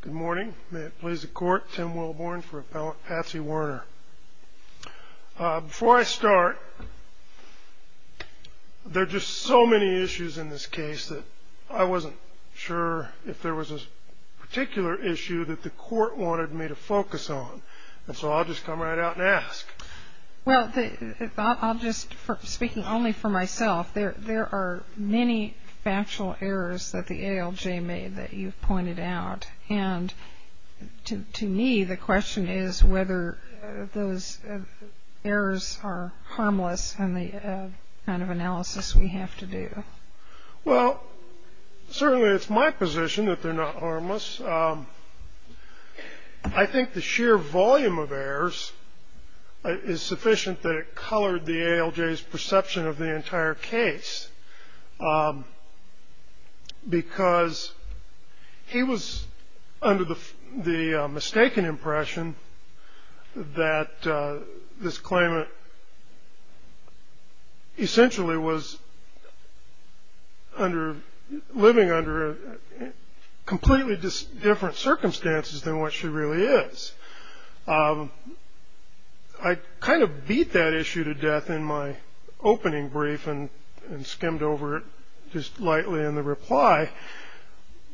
Good morning. May it please the court, Tim Wilborn for Appellant Patsy Werner. Before I start, there are just so many issues in this case that I wasn't sure if there was a particular issue that the court wanted me to focus on. And so I'll just come right out and ask. Well, I'll just, speaking only for myself, there are many factual errors that the ALJ made that you've pointed out. And to me, the question is whether those errors are harmless and the kind of analysis we have to do. Well, certainly it's my position that they're not harmless. I think the sheer volume of errors is sufficient that it colored the ALJ's perception of the entire case. Because he was under the mistaken impression that this claimant essentially was living under completely different circumstances than what she really is. I kind of beat that issue to death in my opening brief and skimmed over it just lightly in the reply.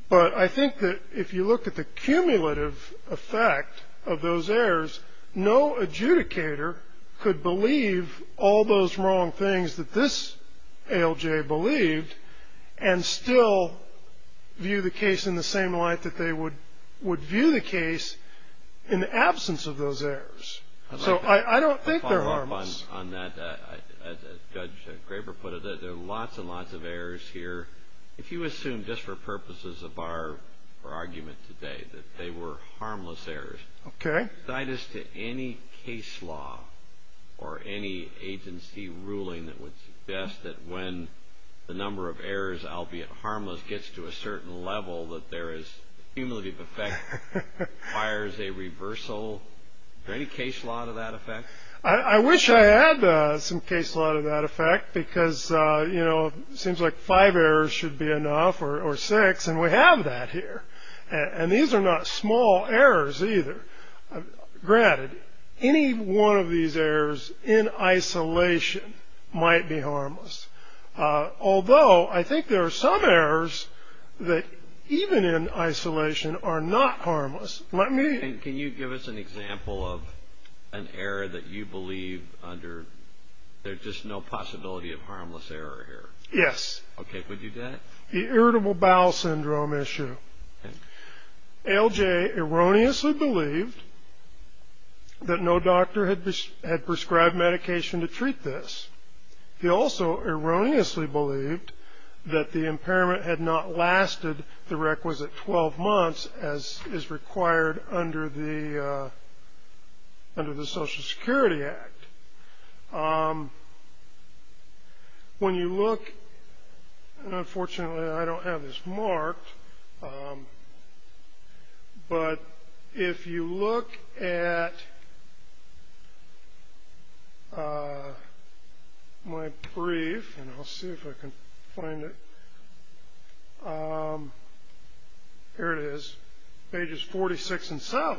But I think that if you look at the cumulative effect of those errors, no adjudicator could believe all those wrong things that this ALJ believed and still view the case in the same light that they would view the case in the absence of those errors. So I don't think they're harmless. I'll follow up on that. As Judge Graber put it, there are lots and lots of errors here. If you assume, just for purposes of our argument today, that they were harmless errors. Okay. As to any case law or any agency ruling that would suggest that when the number of errors, albeit harmless, gets to a certain level, that there is cumulative effect requires a reversal. Is there any case law to that effect? I wish I had some case law to that effect because, you know, it seems like five errors should be enough or six. And we have that here. And these are not small errors either. Granted, any one of these errors in isolation might be harmless. Although I think there are some errors that even in isolation are not harmless. And can you give us an example of an error that you believe under there's just no possibility of harmless error here? Yes. Okay. Could you do that? The irritable bowel syndrome issue. ALJ erroneously believed that no doctor had prescribed medication to treat this. He also erroneously believed that the impairment had not lasted the requisite 12 months as is required under the Social Security Act. When you look, and unfortunately I don't have this marked, but if you look at my brief, and I'll see if I can find it. Here it is. Pages 46 and 7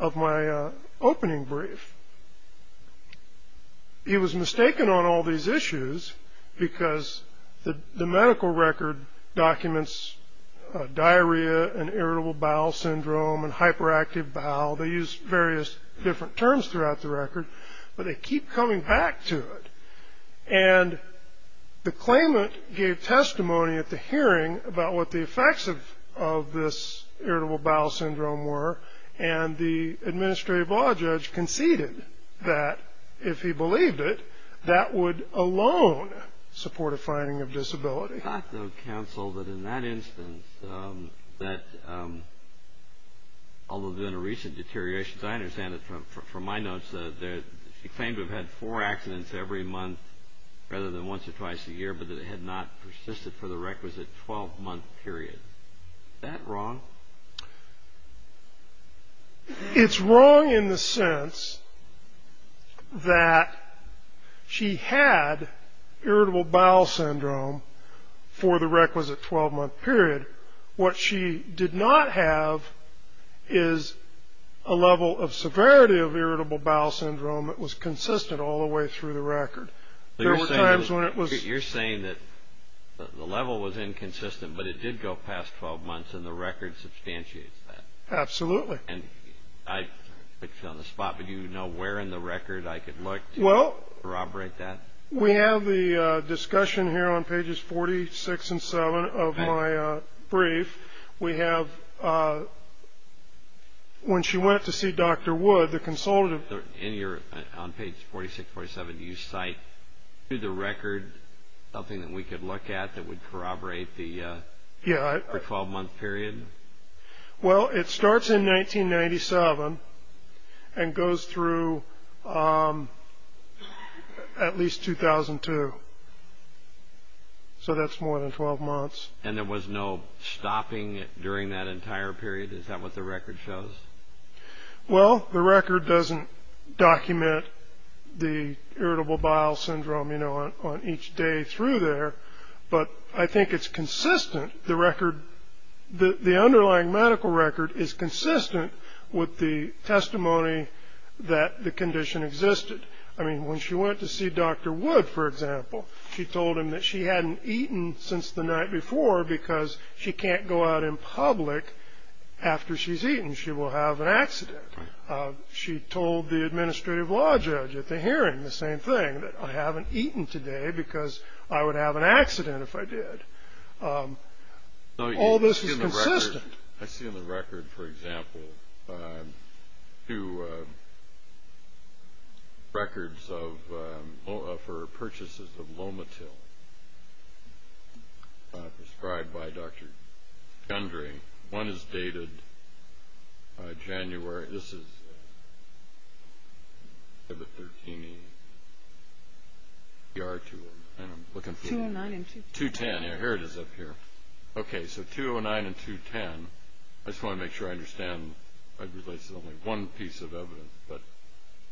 of my opening brief. He was mistaken on all these issues because the medical record documents diarrhea and irritable bowel syndrome and hyperactive bowel. They use various different terms throughout the record, but they keep coming back to it. And the claimant gave testimony at the hearing about what the effects of this irritable bowel syndrome were, and the administrative law judge conceded that if he believed it, that would alone support a finding of disability. I thought, though, counsel, that in that instance, that although there had been a recent deterioration, as I understand it from my notes, that she claimed to have had four accidents every month rather than once or twice a year, but that it had not persisted for the requisite 12-month period. Is that wrong? It's wrong in the sense that she had irritable bowel syndrome for the requisite 12-month period. What she did not have is a level of severity of irritable bowel syndrome that was consistent all the way through the record. You're saying that the level was inconsistent, but it did go past 12 months, and the record substantiates that. Absolutely. And I put you on the spot, but do you know where in the record I could look to corroborate that? Well, we have the discussion here on pages 46 and 47 of my brief. We have when she went to see Dr. Wood, the consultative. On page 46, 47, do you cite through the record something that we could look at that would corroborate the 12-month period? Well, it starts in 1997 and goes through at least 2002, so that's more than 12 months. And there was no stopping during that entire period? Is that what the record shows? Well, the record doesn't document the irritable bowel syndrome on each day through there, but I think it's consistent. The underlying medical record is consistent with the testimony that the condition existed. I mean, when she went to see Dr. Wood, for example, she told him that she hadn't eaten since the night before because she can't go out in public after she's eaten. She will have an accident. She told the administrative law judge at the hearing the same thing, that I haven't eaten today because I would have an accident if I did. All this is consistent. I see in the record, for example, two records for purchases of Lomatil prescribed by Dr. Gundry. One is dated January. This is the 2013 ER tool, and I'm looking for 209 and 210. Here it is up here. Okay, so 209 and 210. I just want to make sure I understand. I believe this is only one piece of evidence, but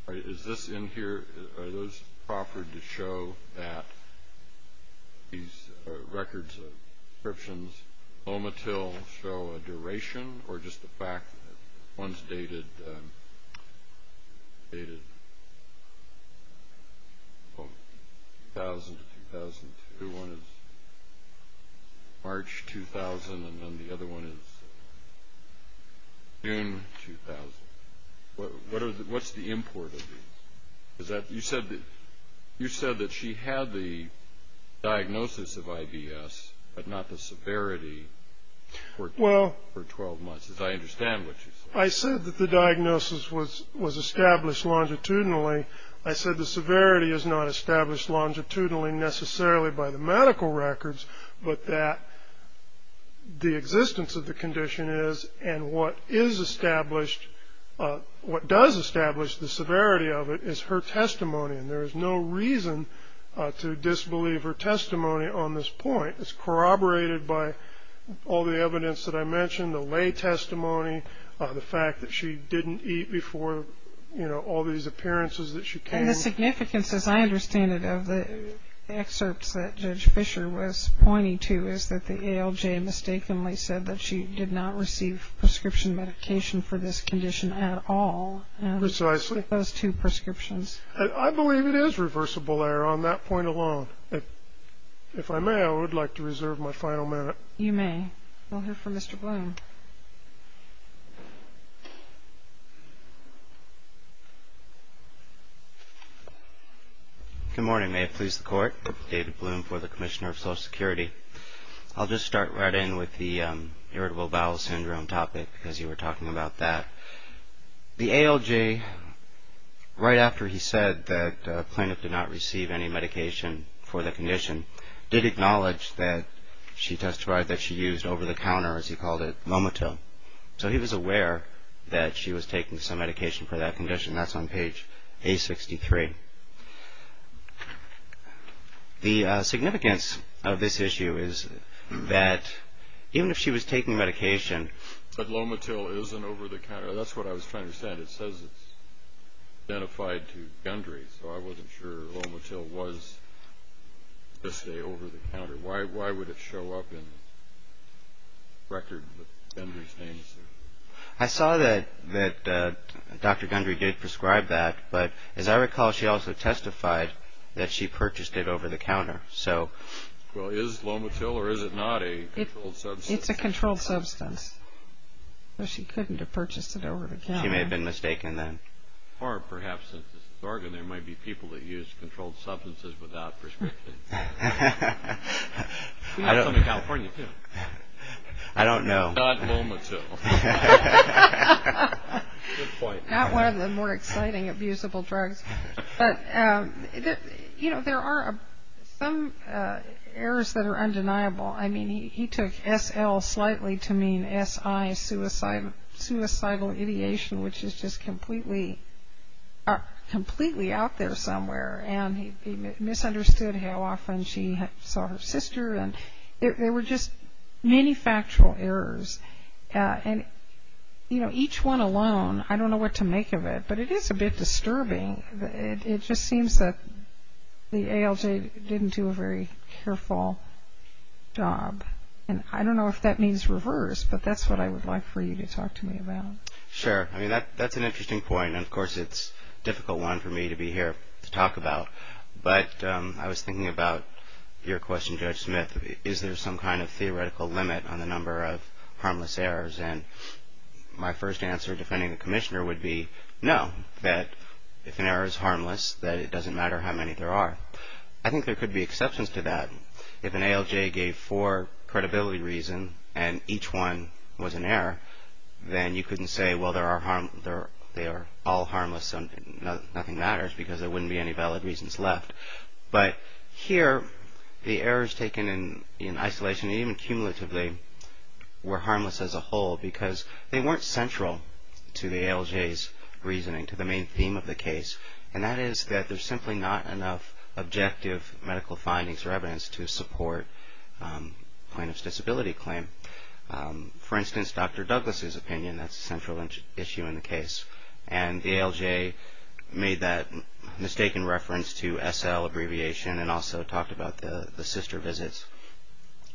is this in here? Are those proffered to show that these records of prescriptions Lomatil show a duration, or just the fact that one's dated 2000 to 2002? One is March 2000, and then the other one is June 2000. What's the import of these? You said that she had the diagnosis of IBS, but not the severity for 12 months, as I understand what you said. I said that the diagnosis was established longitudinally. I said the severity is not established longitudinally necessarily by the medical records, but that the existence of the condition is, and what is established, what does establish the severity of it is her testimony, and there is no reason to disbelieve her testimony on this point. It's corroborated by all the evidence that I mentioned, the lay testimony, the fact that she didn't eat before, you know, all these appearances that she came. The significance, as I understand it, of the excerpts that Judge Fisher was pointing to is that the ALJ mistakenly said that she did not receive prescription medication for this condition at all. Precisely. Those two prescriptions. I believe it is reversible error on that point alone. If I may, I would like to reserve my final minute. You may. We'll hear from Mr. Bloom. Good morning. May it please the Court. David Bloom for the Commissioner of Social Security. I'll just start right in with the irritable bowel syndrome topic, because you were talking about that. The ALJ, right after he said that the plaintiff did not receive any medication for the condition, did acknowledge that she testified that she used over-the-counter, as he called it, Lomatil. So he was aware that she was taking some medication for that condition. That's on page A63. The significance of this issue is that even if she was taking medication, but Lomatil isn't over-the-counter. That's what I was trying to understand. It says it's identified to Gundry, so I wasn't sure Lomatil was, let's say, over-the-counter. Why would it show up in the record that Gundry's name is there? I saw that Dr. Gundry did prescribe that, but as I recall, she also testified that she purchased it over-the-counter. Well, is Lomatil or is it not a controlled substance? It's a controlled substance. So she couldn't have purchased it over-the-counter. She may have been mistaken then. Or perhaps, since this is Oregon, there might be people that use controlled substances without prescription. We have some in California, too. I don't know. Not Lomatil. Good point. Not one of the more exciting abusable drugs. But, you know, there are some errors that are undeniable. I mean, he took SL slightly to mean SI, suicidal ideation, which is just completely out there somewhere. And he misunderstood how often she saw her sister. And there were just many factual errors. And, you know, each one alone, I don't know what to make of it, but it is a bit disturbing. It just seems that the ALJ didn't do a very careful job. And I don't know if that means reverse, but that's what I would like for you to talk to me about. Sure. I mean, that's an interesting point. And, of course, it's a difficult one for me to be here to talk about. But I was thinking about your question, Judge Smith. Is there some kind of theoretical limit on the number of harmless errors? And my first answer defending a commissioner would be no, that if an error is harmless, that it doesn't matter how many there are. I think there could be exceptions to that. If an ALJ gave four credibility reasons and each one was an error, then you couldn't say, well, they are all harmless and nothing matters because there wouldn't be any valid reasons left. But here, the errors taken in isolation, even cumulatively, were harmless as a whole because they weren't central to the ALJ's reasoning, to the main theme of the case. And that is that there's simply not enough objective medical findings or evidence to support plaintiff's disability claim. For instance, Dr. Douglas' opinion, that's a central issue in the case. And the ALJ made that mistaken reference to SL abbreviation and also talked about the sister visits.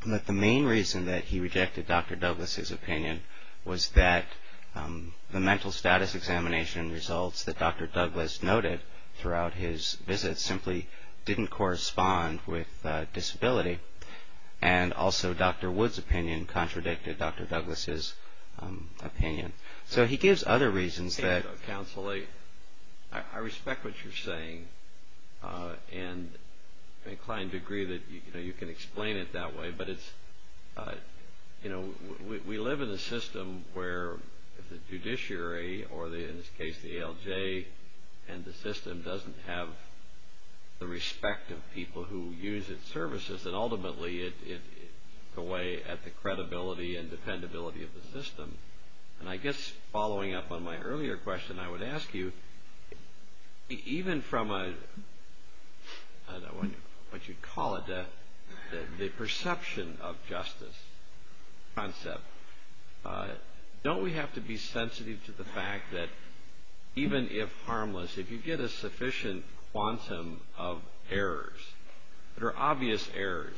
But the main reason that he rejected Dr. Douglas' opinion was that the mental status examination results that Dr. Douglas noted throughout his visit simply didn't correspond with disability. And also, Dr. Wood's opinion contradicted Dr. Douglas' opinion. So he gives other reasons that... Counsel, I respect what you're saying and I'm inclined to agree that you can explain it that way. But we live in a system where the judiciary or, in this case, the ALJ and the system doesn't have the respect of people who use its services. And ultimately, it's a way at the credibility and dependability of the system. And I guess following up on my earlier question, I would ask you, even from a, I don't know what you'd call it, the perception of justice concept, don't we have to be sensitive to the fact that even if harmless, if you get a sufficient quantum of errors, there are obvious errors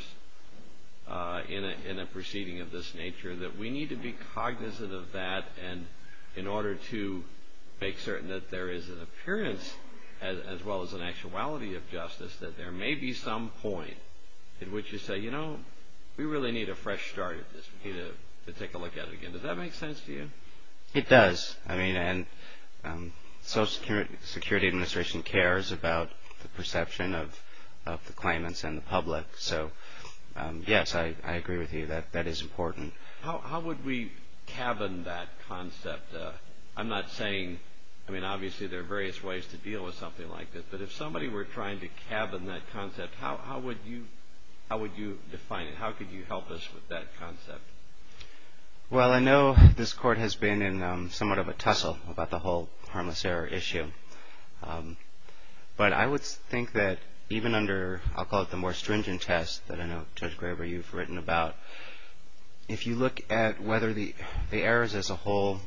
in a proceeding of this nature that we need to be cognizant of that and in order to make certain that there is an appearance as well as an actuality of justice, that there may be some point at which you say, you know, we really need a fresh start at this. We need to take a look at it again. Does that make sense to you? It does. I mean, and Social Security Administration cares about the perception of the claimants and the public. So, yes, I agree with you that that is important. How would we cabin that concept? I'm not saying, I mean, obviously there are various ways to deal with something like this, but if somebody were trying to cabin that concept, how would you define it? How could you help us with that concept? Well, I know this Court has been in somewhat of a tussle about the whole harmless error issue, but I would think that even under, I'll call it the more stringent test that I know Judge Graber, you've written about, if you look at whether the errors as a whole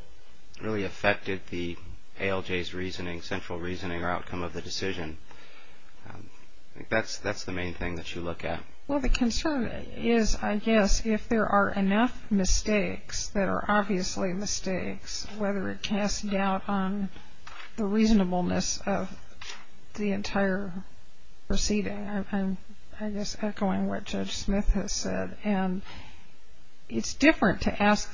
really affected the ALJ's reasoning, central reasoning or outcome of the decision, that's the main thing that you look at. Well, the concern is, I guess, if there are enough mistakes that are obviously mistakes, whether it casts doubt on the reasonableness of the entire proceeding. I'm just echoing what Judge Smith has said. And it's different to ask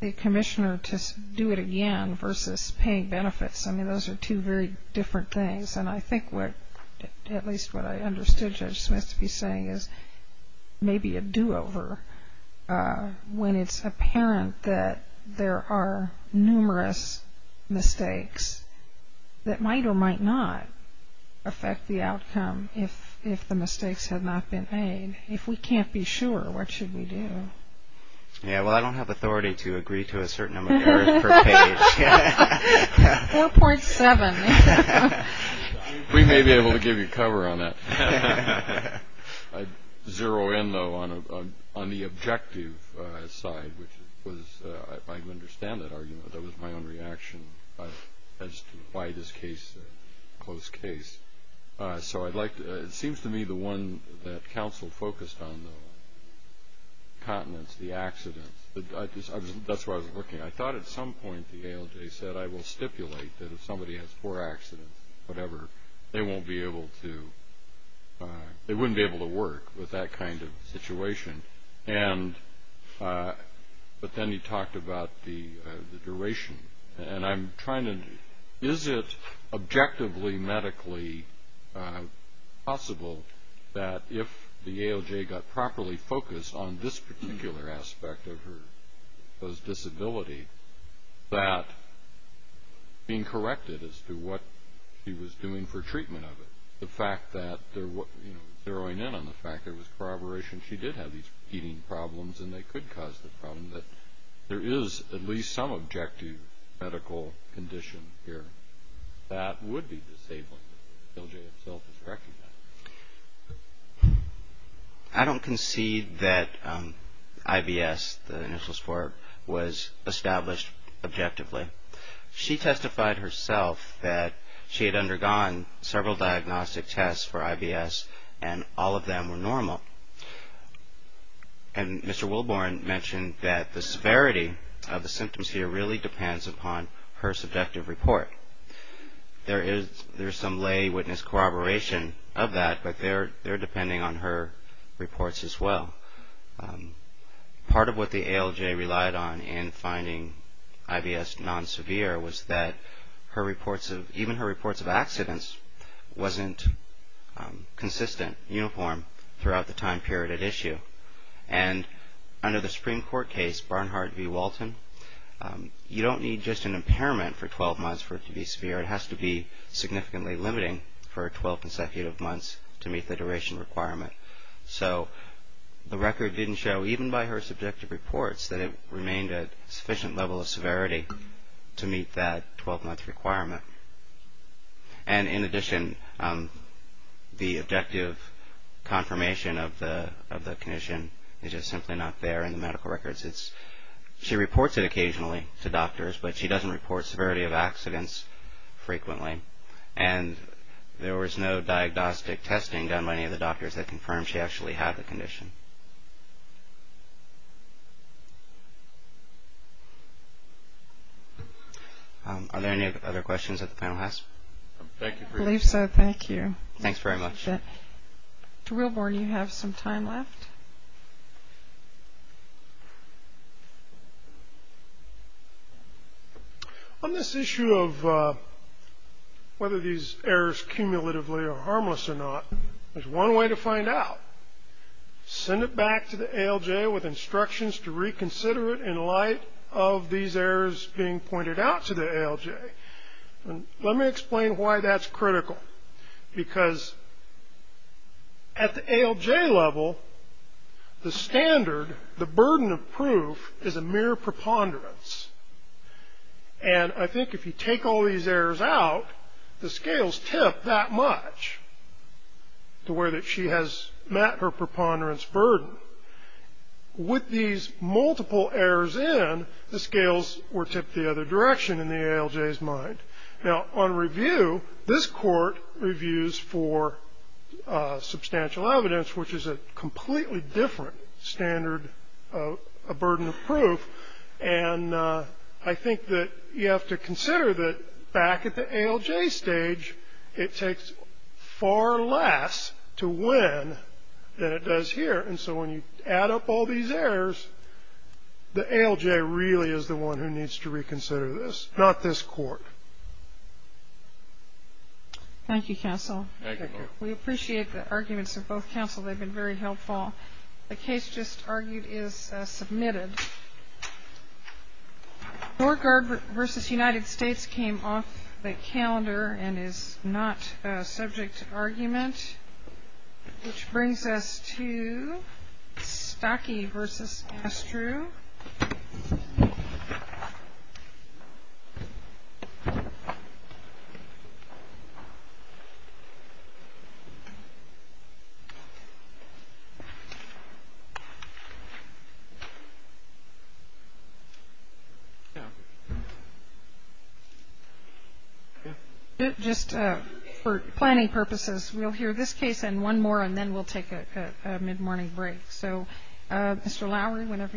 the commissioner to do it again versus paying benefits. I mean, those are two very different things. And I think at least what I understood Judge Smith to be saying is maybe a do-over when it's apparent that there are numerous mistakes that might or might not affect the outcome if the mistakes had not been made. If we can't be sure, what should we do? Yeah, well, I don't have authority to agree to a certain amount of error per page. 4.7. We may be able to give you cover on that. I'd zero in, though, on the objective side, which was, if I can understand that argument, that was my own reaction as to why this case is a close case. So it seems to me the one that counsel focused on, the continents, the accidents, that's where I was looking. I thought at some point the ALJ said, I will stipulate that if somebody has four accidents, whatever, they wouldn't be able to work with that kind of situation. But then he talked about the duration. And I'm trying to, is it objectively medically possible that if the ALJ got properly focused on this particular aspect of her disability, that being corrected as to what she was doing for treatment of it, the fact that, zeroing in on the fact that it was corroboration, she did have these heating problems and they could cause the problem, that there is at least some objective medical condition here that would be disabling. The ALJ itself is correcting that. I don't concede that IBS, the initials for it, was established objectively. She testified herself that she had undergone several diagnostic tests for IBS and all of them were normal. And Mr. Wilborn mentioned that the severity of the symptoms here really depends upon her subjective report. There is some lay witness corroboration of that, but they're depending on her reports as well. Part of what the ALJ relied on in finding IBS non-severe was that her reports of, even her reports of accidents wasn't consistent, uniform throughout the time period at issue. And under the Supreme Court case, Barnhart v. Walton, you don't need just an impairment for 12 months for it to be severe. It has to be significantly limiting for 12 consecutive months to meet the duration requirement. So the record didn't show, even by her subjective reports, that it remained at sufficient level of severity to meet that 12-month requirement. And in addition, the objective confirmation of the condition is just simply not there in the medical records. She reports it occasionally to doctors, but she doesn't report severity of accidents frequently. And there was no diagnostic testing done by any of the doctors that confirmed she actually had the condition. Are there any other questions that the panel has? I believe so. Thank you. Thanks very much. Mr. Reilborn, you have some time left. On this issue of whether these errors cumulatively are harmless or not, there's one way to find out. Send it back to the ALJ with instructions to reconsider it in light of these errors being pointed out to the ALJ. Let me explain why that's critical. Because at the ALJ level, the standard, the burden of proof, is a mere preponderance. And I think if you take all these errors out, the scales tip that much to where she has met her preponderance burden. With these multiple errors in, the scales were tipped the other direction in the ALJ's mind. Now, on review, this court reviews for substantial evidence, which is a completely different standard, a burden of proof. And I think that you have to consider that back at the ALJ stage, it takes far less to win than it does here. And so when you add up all these errors, the ALJ really is the one who needs to reconsider this, not this court. Thank you, counsel. Thank you. We appreciate the arguments of both counsel. They've been very helpful. The case just argued is submitted. Door Guard v. United States came off the calendar and is not subject to argument. Which brings us to Stocki v. Astru. Just for planning purposes, we'll hear this case and one more and then we'll take a mid-morning break. So, Mr. Lowery, whenever you're ready.